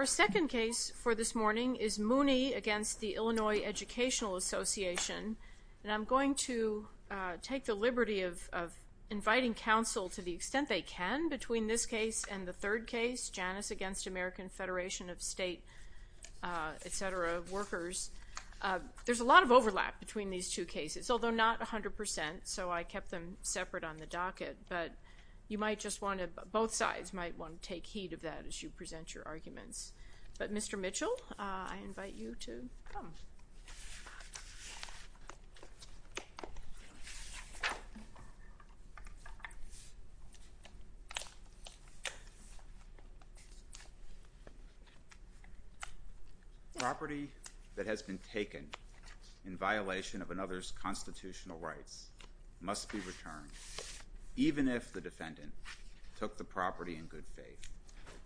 Our second case for this morning is Mooney v. Illinois Education Association, and I'm going to take the liberty of inviting counsel, to the extent they can, between this case and the third case, Janus v. American Federation of State, etc., Workers. There's a lot of overlap between these two cases, although not 100 percent, so I kept them separate on the docket, but you might just want to, both sides might want to take heed of that as you present your arguments. But Mr. Mitchell, I invite you to come. Property that has been taken in violation of another's constitutional rights must be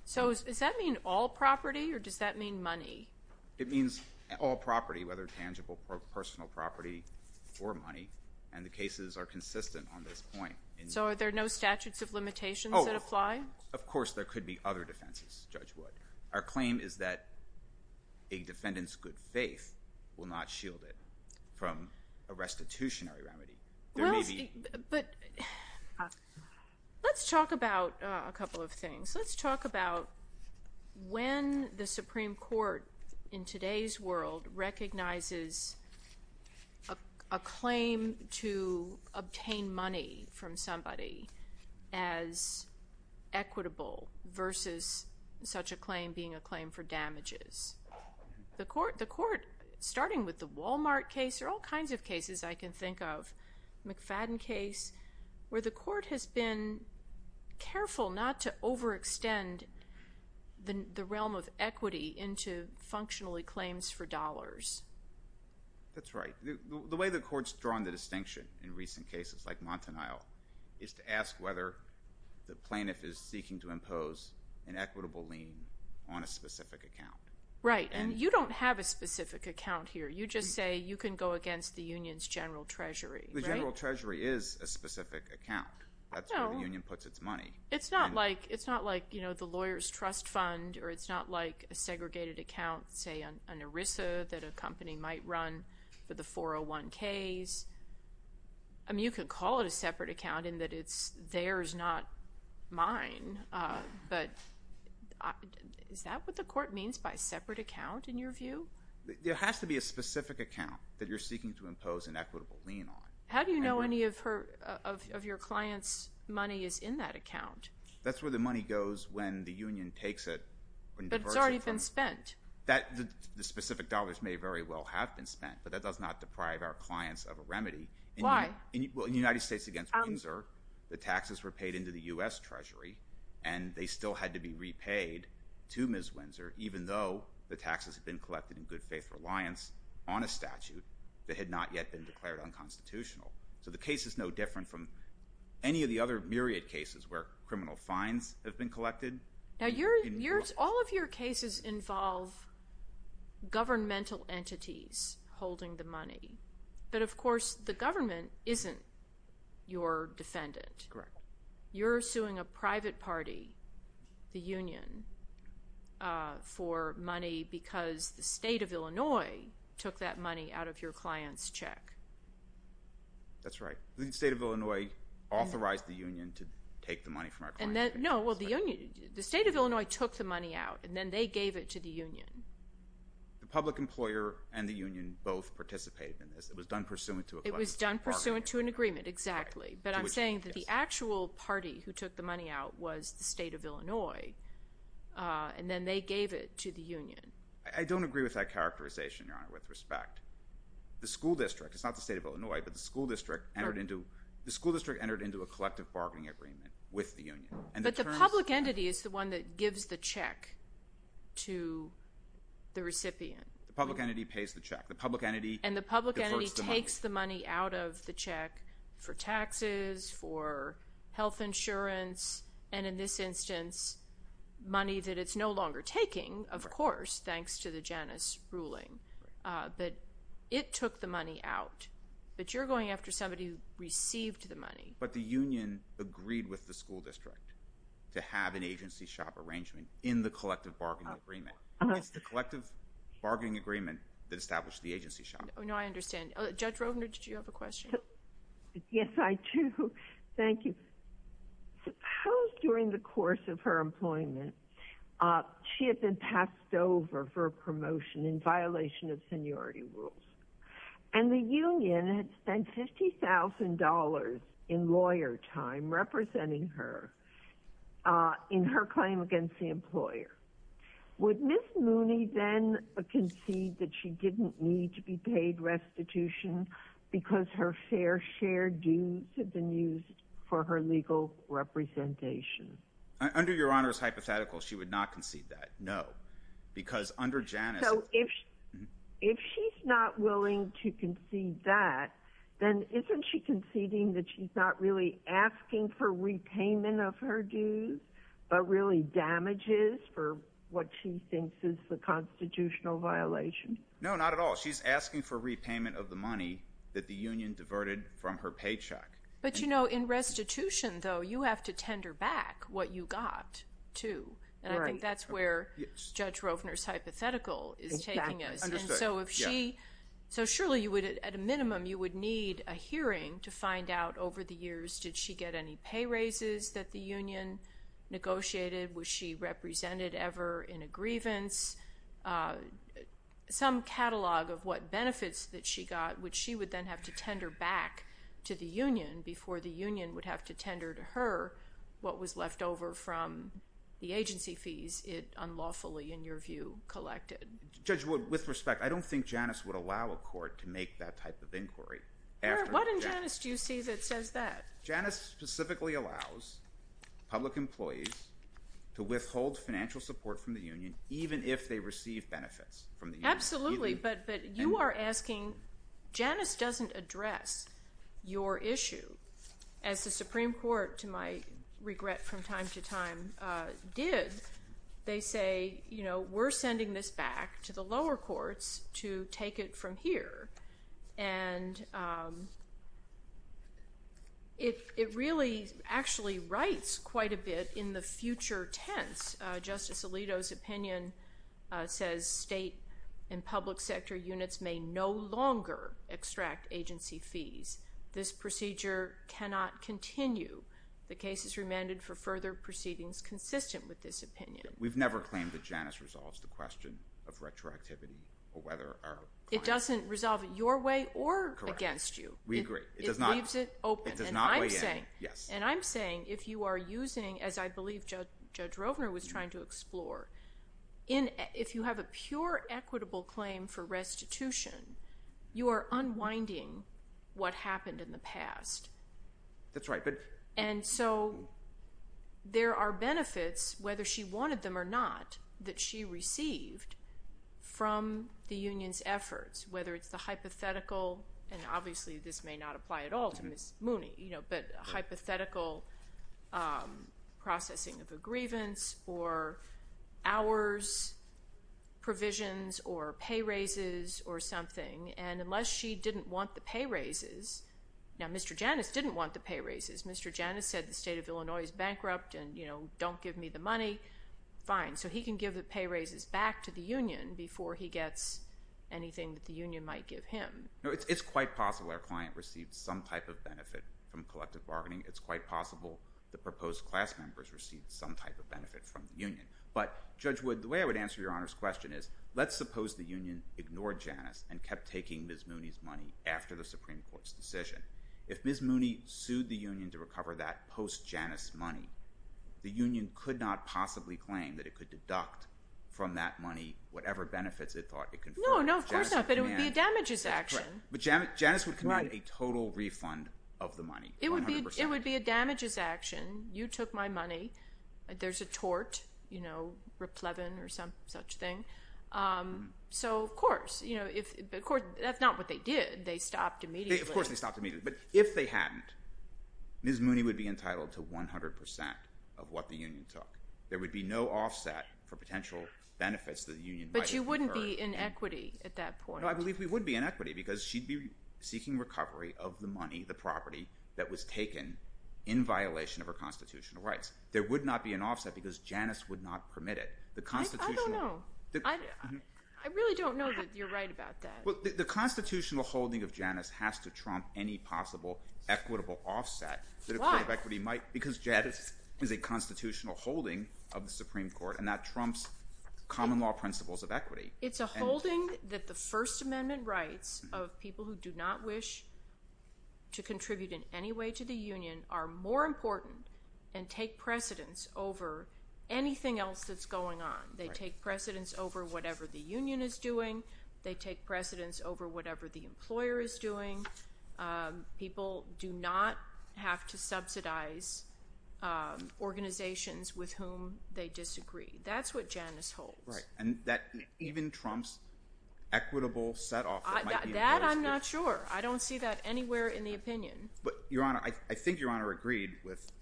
So does that mean all property, or does that mean money? It means all property, whether tangible or personal property, or money, and the cases are consistent on this point. So are there no statutes of limitations that apply? Of course there could be other defenses, Judge Wood. Our claim is that a defendant's good faith will not shield it from a restitutionary remedy. Let's talk about a couple of things. Let's talk about when the Supreme Court in today's world recognizes a claim to obtain money from somebody as equitable versus such a claim being a claim for damages. The court, starting with the Walmart case, there are all kinds of cases I can think of, McFadden case, where the court has been careful not to overextend the realm of equity into functionally claims for dollars. That's right. The way the court's drawn the distinction in recent cases, like Montanile, is to ask whether the plaintiff is seeking to impose an equitable lien on a specific account. Right. And you don't have a specific account here. You just say you can go against the union's general treasury. The general treasury is a specific account. That's where the union puts its money. It's not like the lawyer's trust fund, or it's not like a segregated account, say an ERISA that a company might run for the 401Ks. You can call it a separate account in that it's theirs, not mine, but is that what the court means by separate account, in your view? There has to be a specific account that you're seeking to impose an equitable lien on. How do you know any of your client's money is in that account? That's where the money goes when the union takes it. But it's already been spent. The specific dollars may very well have been spent, but that does not deprive our clients of a remedy. Why? In the United States against Windsor, the taxes were paid into the U.S. Treasury, and they still had to be repaid to Ms. Windsor, even though the taxes had been collected in good faith reliance on a statute that had not yet been declared unconstitutional. So the case is no different from any of the other myriad cases where criminal fines have been collected. Now, all of your cases involve governmental entities holding the money, but of course the government isn't your defendant. Correct. You're suing a private party, the union, for money because the state of Illinois took that money out of your client's check. That's right. The state of Illinois authorized the union to take the money from our client's check. No, well, the state of Illinois took the money out, and then they gave it to the union. The public employer and the union both participated in this. It was done pursuant to a partnership. It was done pursuant to an agreement, exactly. But I'm saying that the actual party who took the money out was the state of Illinois, and then they gave it to the union. I don't agree with that characterization, Your Honor, with respect. The school district, it's not the state of Illinois, but the school district entered into a collective bargaining agreement with the union. But the public entity is the one that gives the check to the recipient. The public entity pays the check. The public entity- for health insurance, and in this instance, money that it's no longer taking, of course, thanks to the Janus ruling. But it took the money out. But you're going after somebody who received the money. But the union agreed with the school district to have an agency shop arrangement in the collective bargaining agreement. It's the collective bargaining agreement that established the agency shop. Oh, no, I understand. Judge Rovner, did you have a question? Yes, I do. Thank you. Suppose during the course of her employment, she had been passed over for a promotion in violation of seniority rules, and the union had spent $50,000 in lawyer time representing her in her claim against the employer. Would Ms. Mooney then concede that she didn't need to be paid restitution because her fair share dues had been used for her legal representation? Under Your Honor's hypothetical, she would not concede that, no. Because under Janus- So if she's not willing to concede that, then isn't she conceding that she's not really for what she thinks is the constitutional violation? No, not at all. She's asking for repayment of the money that the union diverted from her paycheck. But you know, in restitution, though, you have to tender back what you got, too. Right. And I think that's where Judge Rovner's hypothetical is taking us. Exactly. Understood. So if she- Yeah. So surely, at a minimum, you would need a hearing to find out over the years, did she get any pay raises that the union negotiated? Was she represented ever in a grievance? Some catalog of what benefits that she got, which she would then have to tender back to the union before the union would have to tender to her what was left over from the agency fees it unlawfully, in your view, collected. Judge Wood, with respect, I don't think Janus would allow a court to make that type of inquiry after- What in Janus do you see that says that? Janus specifically allows public employees to withhold financial support from the union even if they receive benefits from the union. Absolutely. But you are asking, Janus doesn't address your issue as the Supreme Court, to my regret from time to time, did. They say, you know, we're sending this back to the lower courts to take it from here. And it really actually writes quite a bit in the future tense. Justice Alito's opinion says state and public sector units may no longer extract agency fees. This procedure cannot continue. The case is remanded for further proceedings consistent with this opinion. We've never claimed that Janus resolves the question of retroactivity or whether- It doesn't resolve it your way or against you. We agree. It does not- It leaves it open. It does not weigh in. Yes. And I'm saying if you are using, as I believe Judge Rovner was trying to explore, if you have a pure equitable claim for restitution, you are unwinding what happened in the past. That's right. But- And so there are benefits, whether she wanted them or not, that she received from the union's efforts, whether it's the hypothetical, and obviously this may not apply at all to Miss Mooney, you know, but hypothetical processing of a grievance or hours provisions or pay raises or something. And unless she didn't want the pay raises, now Mr. Janus didn't want the pay raises. Mr. Janus said the state of Illinois is bankrupt and, you know, don't give me the money. Fine. So he can give the pay raises back to the union before he gets anything that the union might give him. No, it's quite possible our client received some type of benefit from collective bargaining. It's quite possible the proposed class members received some type of benefit from the union. But Judge Wood, the way I would answer your Honor's question is, let's suppose the union ignored Janus and kept taking Miss Mooney's money after the Supreme Court's decision. If Miss Mooney sued the union to recover that post-Janus money, the union could not possibly claim that it could deduct from that money whatever benefits it thought it conferred. No, no, of course not, but it would be a damages action. That's correct. But Janus would commit a total refund of the money, 100%. It would be a damages action. You took my money. There's a tort, you know, replevin or some such thing. So, of course, you know, that's not what they did. They stopped immediately. Of course they stopped immediately. But if they hadn't, Miss Mooney would be entitled to 100% of what the union took. There would be no offset for potential benefits that the union might have conferred. But you wouldn't be in equity at that point. No, I believe we would be in equity because she'd be seeking recovery of the money, the property that was taken in violation of her constitutional rights. There would not be an offset because Janus would not permit it. I don't know. I really don't know that you're right about that. The constitutional holding of Janus has to trump any possible equitable offset that a court of equity might, because Janus is a constitutional holding of the Supreme Court and that trumps common law principles of equity. It's a holding that the First Amendment rights of people who do not wish to contribute in any way to the union are more important and take precedence over anything else that's going on. They take precedence over whatever the union is doing. They take precedence over whatever the employer is doing. People do not have to subsidize organizations with whom they disagree. That's what Janus holds. Right. And that even trumps equitable set-off that might be imposed. That I'm not sure. I don't see that anywhere in the opinion. But Your Honor, I think Your Honor agreed with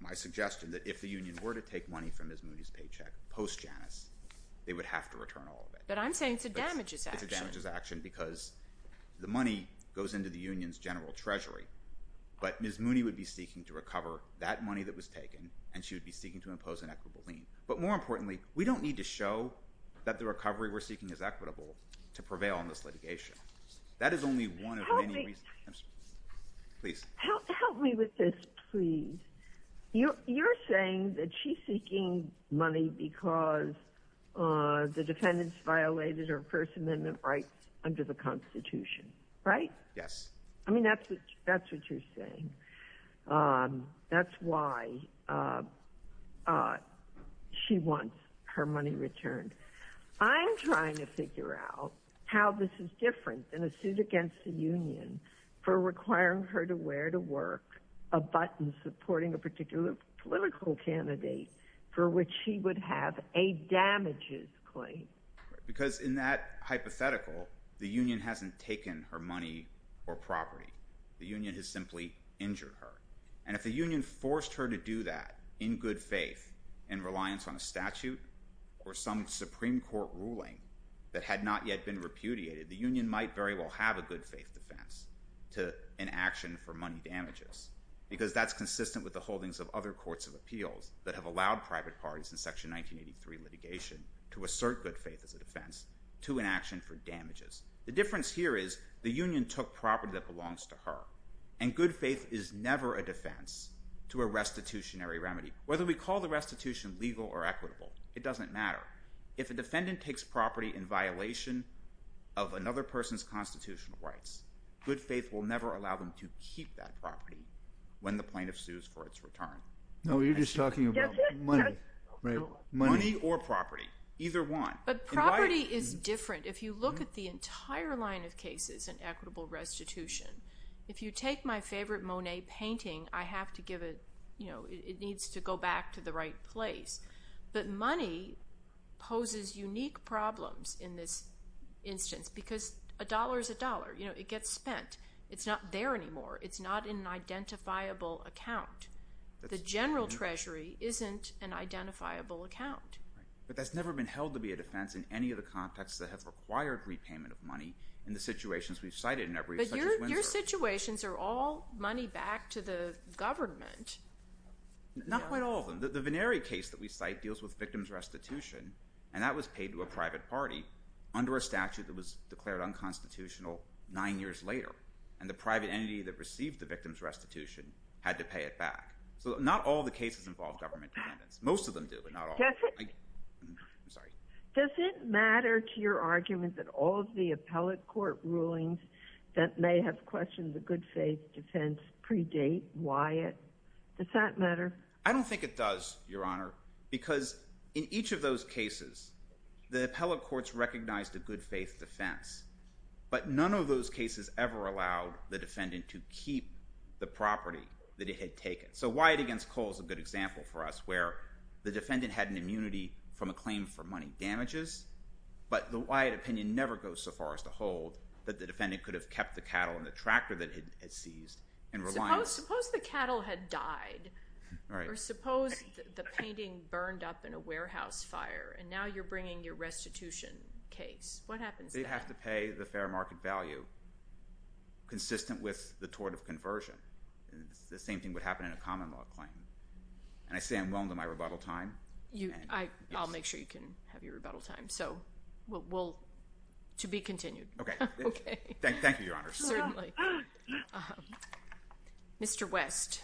my suggestion that if the union were to take money from Ms. Mooney's paycheck post-Janus, they would have to return all of it. But I'm saying it's a damages action. It's a damages action because the money goes into the union's general treasury. But Ms. Mooney would be seeking to recover that money that was taken, and she would be seeking to impose an equitable lien. But more importantly, we don't need to show that the recovery we're seeking is equitable to prevail in this litigation. That is only one of many reasons. Help me. I'm sorry. Please. Help me with this, please. You're saying that she's seeking money because the defendants violated her First Amendment rights under the Constitution, right? Yes. I mean, that's what you're saying. That's why she wants her money returned. I'm trying to figure out how this is different than a suit against the union for requiring her to wear to work a button supporting a particular political candidate for which she would have a damages claim. Because in that hypothetical, the union hasn't taken her money or property. The union has simply injured her. And if the union forced her to do that in good faith, in reliance on a statute or some Supreme Court ruling that had not yet been repudiated, the union might very well have a good faith defense to an action for money damages. Because that's consistent with the holdings of other courts of appeals that have allowed private parties in Section 1983 litigation to assert good faith as a defense to an action for damages. The difference here is the union took property that belongs to her. And good faith is never a defense to a restitutionary remedy. Whether we call the restitution legal or equitable, it doesn't matter. If a defendant takes property in violation of another person's constitutional rights, good faith will never allow them to keep that property when the plaintiff sues for its return. No, you're just talking about money, right? Money or property, either one. But property is different. If you look at the entire line of cases in equitable restitution, if you take my favorite Monet painting, I have to give it, you know, it needs to go back to the right place. But money poses unique problems in this instance because a dollar is a dollar. You know, it gets spent. It's not there anymore. It's not in an identifiable account. The general treasury isn't an identifiable account. But that's never been held to be a defense in any of the contexts that have required repayment of money in the situations we've cited in every such as Windsor. But your situations are all money back to the government. Not quite all of them. The Vennari case that we cite deals with victim's restitution, and that was paid to a private party under a statute that was declared unconstitutional nine years later. And the private entity that received the victim's restitution had to pay it back. So not all the cases involve government dependence. Most of them do, but not all. I'm sorry. Does it matter to your argument that all of the appellate court rulings that may have questioned the good faith defense predate Wyatt? Does that matter? I don't think it does, Your Honor, because in each of those cases, the appellate courts recognized a good faith defense. But none of those cases ever allowed the defendant to keep the property that it had taken. So Wyatt against Cole is a good example for us, where the defendant had an immunity from a claim for money damages, but the Wyatt opinion never goes so far as to hold that the defendant could have kept the cattle and the tractor that it had seized in reliance. Well, suppose the cattle had died, or suppose the painting burned up in a warehouse fire, and now you're bringing your restitution case. What happens then? They have to pay the fair market value consistent with the tort of conversion. The same thing would happen in a common law claim. And I say I'm willing to my rebuttal time. I'll make sure you can have your rebuttal time. So to be continued. OK. OK. Thank you, Your Honor. Certainly. Mr. West.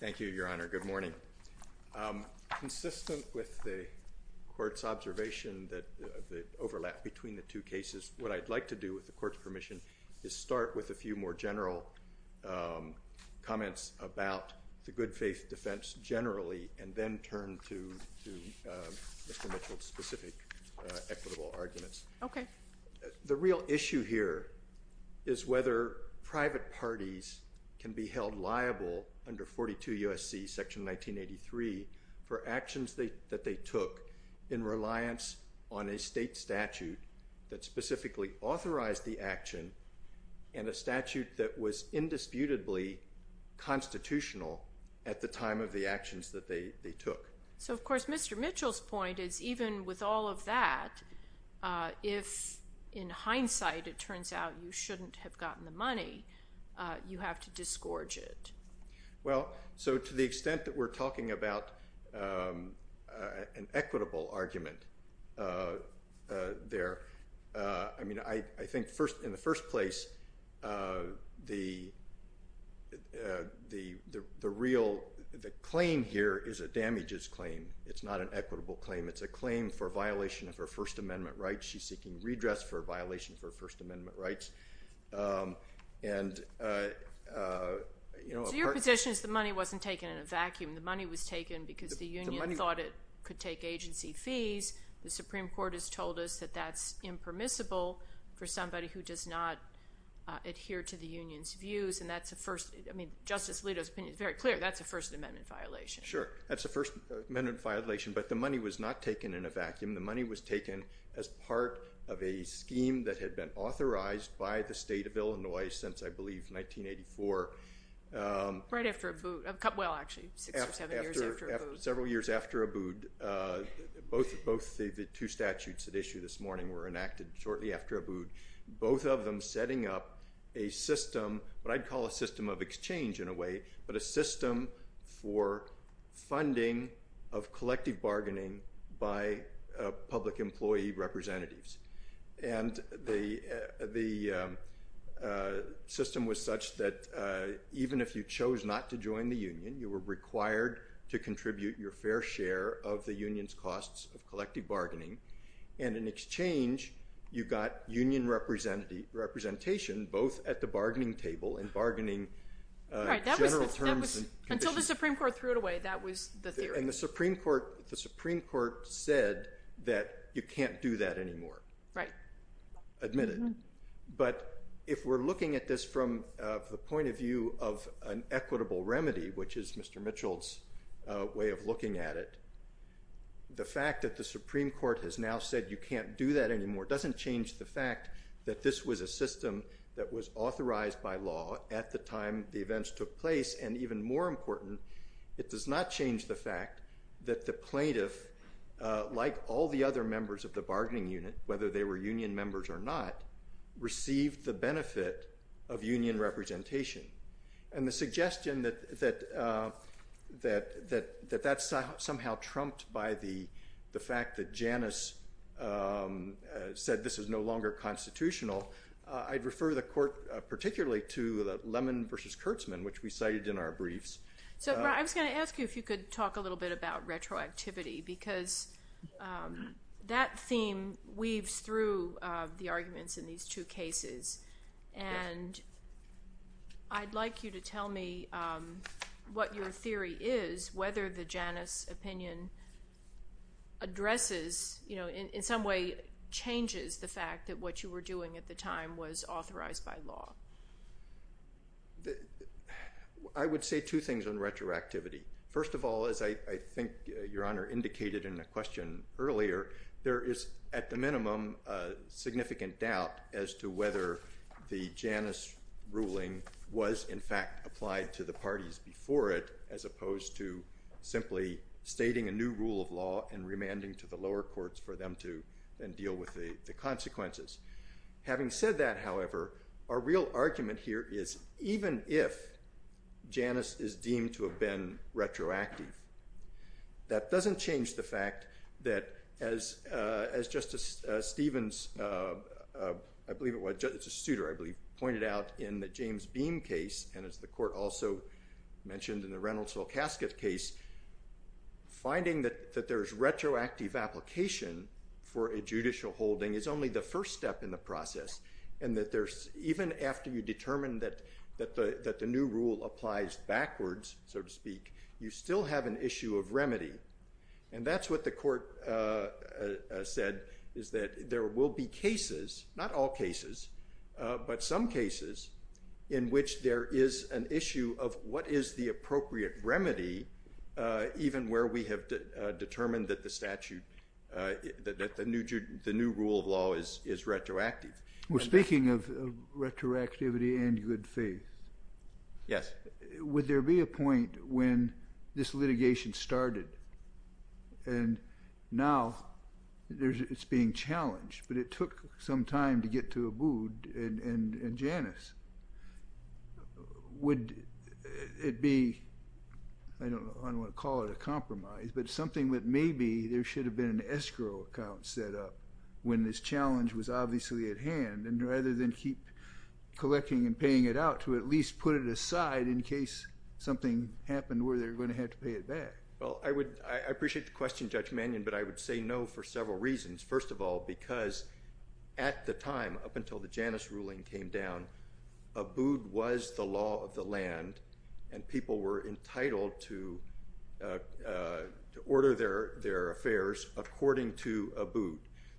Thank you, Your Honor. Good morning. Consistent with the court's observation that the overlap between the two cases, what I'd like to do with the Court's permission is start with a few more general comments about the good faith defense generally, and then turn to Mr. Mitchell's specific equitable arguments. Okay. The real issue here is whether private parties can be held liable under 42 U.S.C. § 1983 for actions that they took in reliance on a state statute that specifically authorized the action, and a statute that was indisputably constitutional at the time of the actions that they took. So of course, Mr. Mitchell's point is even with all of that, if in hindsight it turns out you shouldn't have gotten the money, you have to disgorge it. Well, so to the extent that we're talking about an equitable argument there, I mean, I think in the first place, the claim here is a damages claim. It's not an equitable claim. It's a claim for violation of her First Amendment rights. She's seeking redress for a violation of her First Amendment rights. So your position is the money wasn't taken in a vacuum. The money was taken because the union thought it could take agency fees. The Supreme Court has told us that that's impermissible for somebody who does not adhere to the union's views, and that's a first—I mean, Justice Alito's opinion is very clear. That's a First Amendment violation. Sure. That's a First Amendment violation, but the money was not taken in a vacuum. The money was taken as part of a scheme that had been authorized by the state of Illinois since, I believe, 1984. Right after Abood. Well, actually, six or seven years after Abood. Several years after Abood, both the two statutes that issued this morning were enacted shortly after Abood, both of them setting up a system, what I'd call a system of exchange in a way, but a system for funding of collective bargaining by public employee representatives. And the system was such that even if you chose not to join the union, you were required to contribute your fair share of the union's costs of collective bargaining, and in exchange, you got union representation, both at the bargaining table and bargaining general terms and conditions. Right. Until the Supreme Court threw it away, that was the theory. And the Supreme Court said that you can't do that anymore—admitted. But if we're looking at this from the point of view of an equitable remedy, which is Mr. Smith looking at it, the fact that the Supreme Court has now said you can't do that anymore doesn't change the fact that this was a system that was authorized by law at the time the events took place. And even more important, it does not change the fact that the plaintiff, like all the other members of the bargaining unit, whether they were union members or not, received the benefit of union representation. And the suggestion that that's somehow trumped by the fact that Janus said this is no longer constitutional, I'd refer the Court particularly to the Lemon v. Kurtzman, which we cited in our briefs. So, I was going to ask you if you could talk a little bit about retroactivity, because that theme weaves through the arguments in these two cases. And I'd like you to tell me what your theory is, whether the Janus opinion addresses, in some way changes, the fact that what you were doing at the time was authorized by law. I would say two things on retroactivity. First of all, as I think Your Honor indicated in a question earlier, there is, at the minimum, a significant doubt as to whether the Janus ruling was, in fact, applied to the parties before it, as opposed to simply stating a new rule of law and remanding to the lower courts for them to then deal with the consequences. Having said that, however, our real argument here is, even if Janus is deemed to have been retroactive, that doesn't change the fact that, as Justice Stevens, I believe it was, Justice Souter, I believe, pointed out in the James Beam case, and as the Court also mentioned in the Reynolds-Wilkasketh case, finding that there's retroactive application for a judicial holding is only the first step in the process, and that there's, even after you determine that the new rule applies backwards, so to speak, you still have an issue of remedy. And that's what the Court said, is that there will be cases, not all cases, but some cases in which there is an issue of what is the appropriate remedy, even where we have determined that the statute, that the new rule of law is retroactive. Well, speaking of retroactivity and good faith, would there be a point when this litigation started and now it's being challenged, but it took some time to get to Abood and Janus, would it be, I don't want to call it a compromise, but something that maybe there should have been an escrow account set up when this challenge was obviously at hand, and rather than keep collecting and paying it out, to at least put it aside in case something happened where they're going to have to pay it back. Well, I appreciate the question, Judge Mannion, but I would say no for several reasons. First of all, because at the time, up until the Janus ruling came down, Abood was the according to Abood.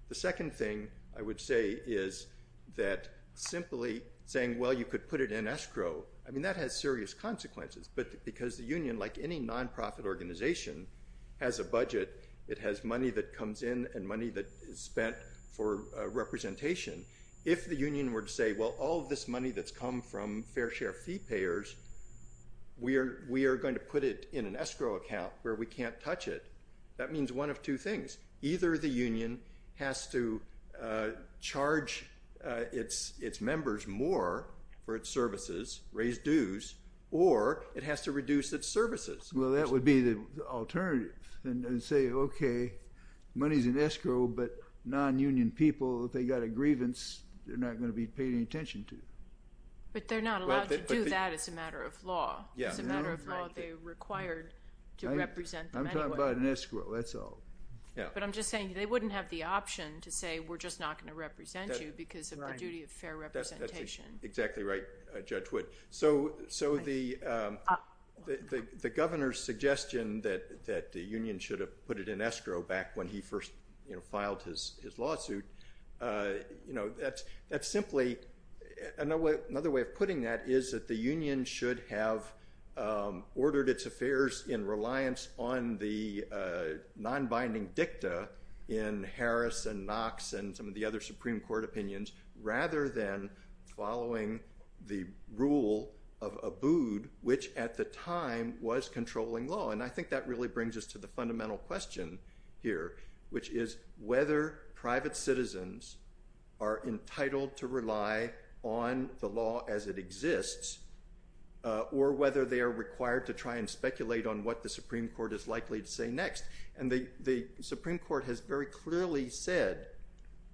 The second thing I would say is that simply saying, well, you could put it in escrow, I mean, that has serious consequences, but because the union, like any non-profit organization, has a budget, it has money that comes in and money that is spent for representation. If the union were to say, well, all of this money that's come from fair share fee payers, we are going to put it in an escrow account where we can't touch it. That means one of two things. Either the union has to charge its members more for its services, raise dues, or it has to reduce its services. Well, that would be the alternative, and say, okay, money's in escrow, but non-union people, if they got a grievance, they're not going to be paid any attention to. But they're not allowed to do that as a matter of law, as a matter of law, they're required to represent them anyway. I'm talking about an escrow, that's all. Yeah. But I'm just saying, they wouldn't have the option to say, we're just not going to represent you because of the duty of fair representation. Exactly right, Judge Wood. So the governor's suggestion that the union should have put it in escrow back when he first filed his lawsuit, that's simply... Another way of putting that is that the union should have ordered its affairs in reliance on the non-binding dicta in Harris and Knox and some of the other Supreme Court opinions, rather than following the rule of Abood, which at the time was controlling law. And I think that really brings us to the fundamental question here, which is whether private citizens are entitled to rely on the law as it exists, or whether they are required to try and speculate on what the Supreme Court is likely to say next. And the Supreme Court has very clearly said,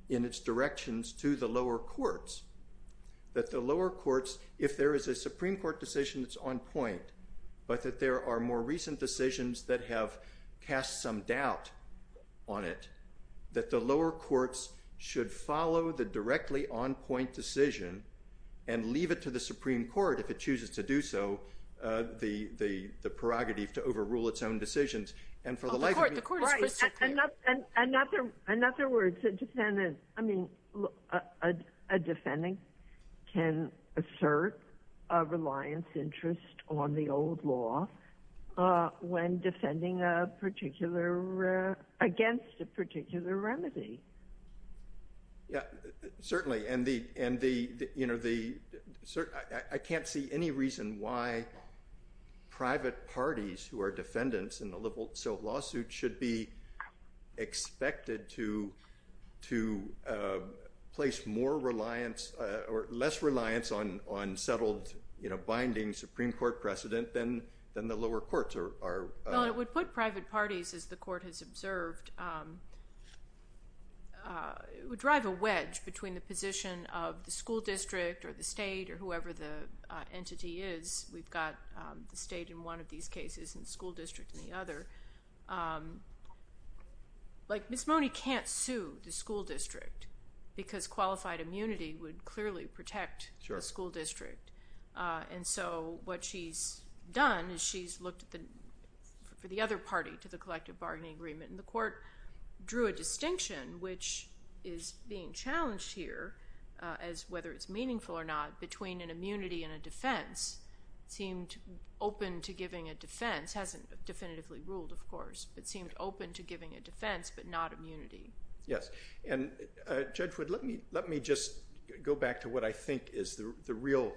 in its directions to the lower courts, that the lower courts, if there is a Supreme Court decision that's on point, but that there are more recent decisions that have cast some doubt on it, that the lower courts should follow the directly on-point decision and leave it to the Supreme Court, if it chooses to do so, the prerogative to overrule its own decisions. And for the life of me... Oh, the court is... Right. In other words, a defendant... I mean, a defendant can assert a reliance interest on the old law when defending a particular... against a particular remedy. Yeah, certainly, and the... I can't see any reason why private parties who are defendants in a liberal civil lawsuit should be expected to place more reliance, or less reliance on settled, binding Supreme Court precedent than the lower courts are... Well, it would put private parties, as the court has observed, it would drive a wedge between the position of the school district, or the state, or whoever the entity is. We've got the state in one of these cases, and the school district in the other. Like Ms. Mone can't sue the school district, because qualified immunity would clearly protect the school district. Sure. And so what she's done is she's looked at the... for the other party to the collective bargaining agreement. And the court drew a distinction, which is being challenged here, as whether it's meaningful or not, between an immunity and a defense, seemed open to giving a defense, hasn't definitively ruled, of course, but seemed open to giving a defense, but not immunity. Yes. And Judge Wood, let me just go back to what I think is the real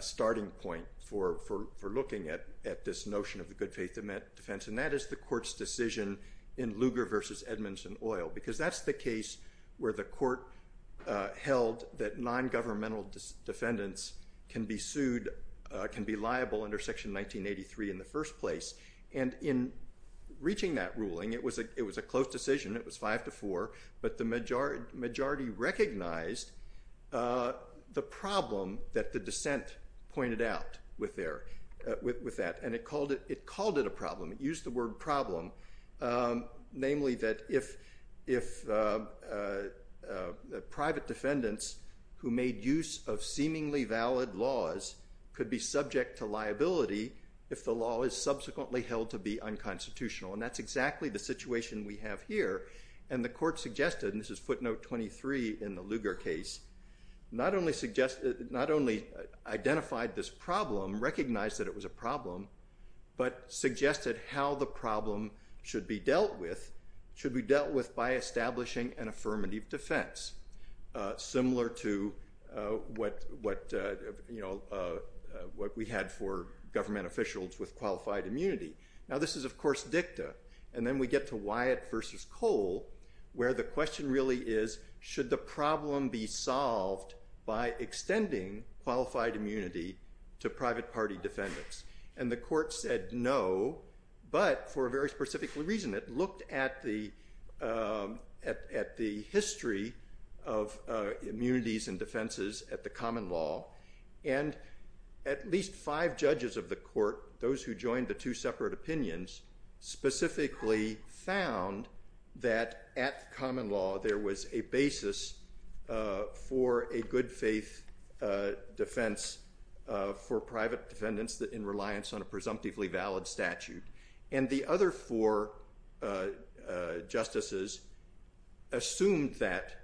starting point for looking at this notion of the good faith defense, and that is the court's decision in Lugar versus Edmondson-Oil, because that's the case where the court held that non-governmental defendants can be sued, can be liable under Section 1983 in the first place. And in reaching that ruling, it was a close decision, it was five to four, but the majority recognized the problem that the dissent pointed out with that, and it called it a problem. It used the word problem, namely that if private defendants who made use of seemingly valid laws could be subject to liability if the law is subsequently held to be unconstitutional. And that's exactly the situation we have here. And the court suggested, and this is footnote 23 in the Lugar case, not only identified this problem, recognized that it was a problem, but suggested how the problem should be dealt with by establishing an affirmative defense, similar to what we had for government officials with qualified immunity. Now this is, of course, dicta. And then we get to Wyatt versus Cole, where the question really is, should the problem be solved by extending qualified immunity to private party defendants? And the court said no, but for a very specific reason. It looked at the history of immunities and defenses at the common law, and at least five judges of the court, those who joined the two separate opinions, specifically found that at the common law there was a basis for a good faith defense for private defendants in reliance on a presumptively valid statute. And the other four justices assumed that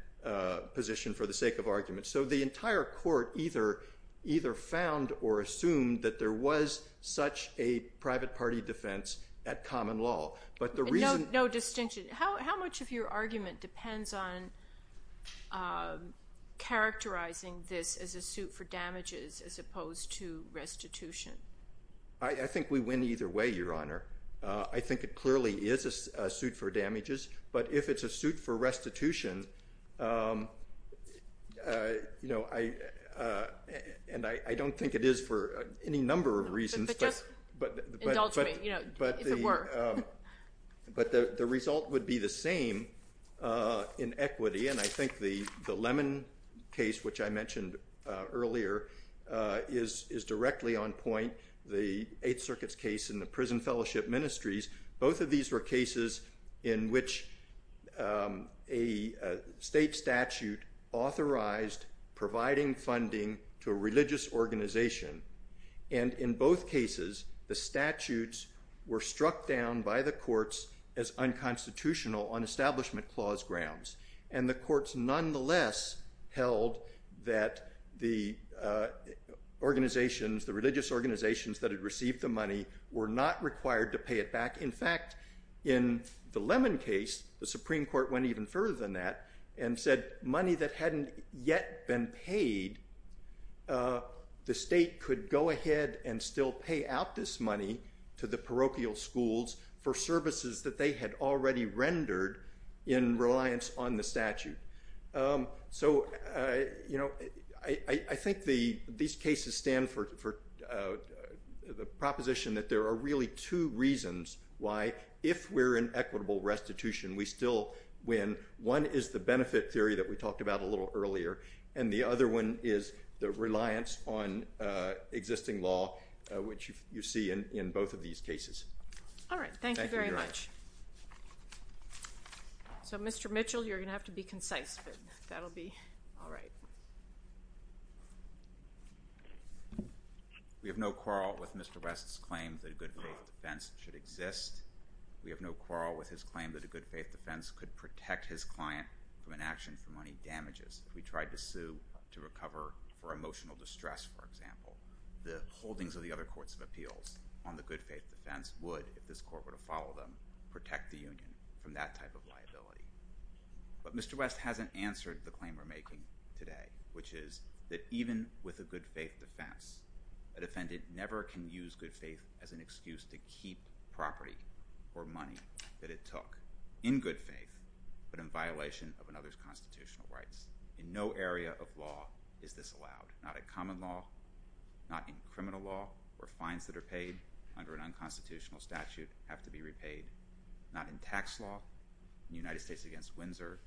position for the sake of argument. So the entire court either found or assumed that there was such a private party defense at common law. But the reason- No distinction. How much of your argument depends on characterizing this as a suit for damages as opposed to restitution? I think we win either way, Your Honor. I think it clearly is a suit for damages. But if it's a suit for restitution, you know, I- and I don't think it is for any number of reasons. But just indulge me, you know, if it were. But the result would be the same in equity. And I think the Lemon case, which I mentioned earlier, is directly on point. The Eighth Circuit's case and the Prison Fellowship Ministries, both of these were cases in which a state statute authorized providing funding to a religious organization. And in both cases, the statutes were struck down by the courts as unconstitutional on establishment clause grounds. And the courts nonetheless held that the organizations, the religious organizations that had received the money were not required to pay it back. In fact, in the Lemon case, the Supreme Court went even further than that and said money that hadn't yet been paid, the state could go ahead and still pay out this money to the So, you know, I think these cases stand for the proposition that there are really two reasons why, if we're in equitable restitution, we still win. One is the benefit theory that we talked about a little earlier. And the other one is the reliance on existing law, which you see in both of these cases. All right. Thank you very much. Thank you, Your Honor. So, Mr. Mitchell, you're going to have to be concise, but that'll be all right. We have no quarrel with Mr. West's claim that a good faith defense should exist. We have no quarrel with his claim that a good faith defense could protect his client from an action for money damages. If we tried to sue to recover for emotional distress, for example, the holdings of the other courts of appeals on the good faith defense would, if this court were to follow them, protect the union from that type of liability. But Mr. West hasn't answered the claim we're making today, which is that even with a good faith defense, a defendant never can use good faith as an excuse to keep property or money that it took in good faith, but in violation of another's constitutional rights. In no area of law is this allowed, not in common law, not in criminal law, where fines that are paid under an unconstitutional statute have to be repaid, not in tax law. In the United States against Windsor,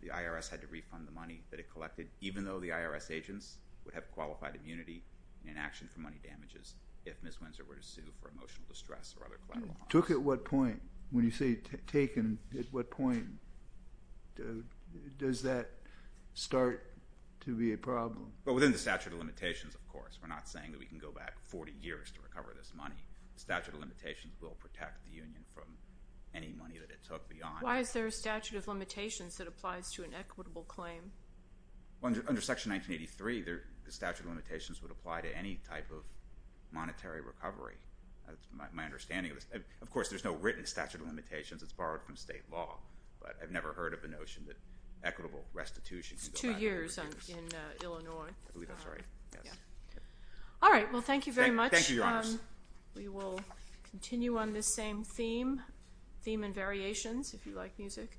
the IRS had to refund the money that it collected, even though the IRS agents would have qualified immunity in action for money damages if Ms. Windsor were to sue for emotional distress or other collateral harms. Took at what point? When you say taken, at what point does that start to be a problem? Well, within the statute of limitations, of course. We're not saying that we can go back 40 years to recover this money. The statute of limitations will protect the union from any money that it took beyond. Why is there a statute of limitations that applies to an equitable claim? Under Section 1983, the statute of limitations would apply to any type of monetary recovery. That's my understanding of this. Of course, there's no written statute of limitations. It's borrowed from state law. But I've never heard of the notion that equitable restitution can go back 40 years. It's two years in Illinois. I believe that's right. All right. Well, thank you very much. Thank you, Your Honors. We will continue on this same theme, theme and variations, if you like music.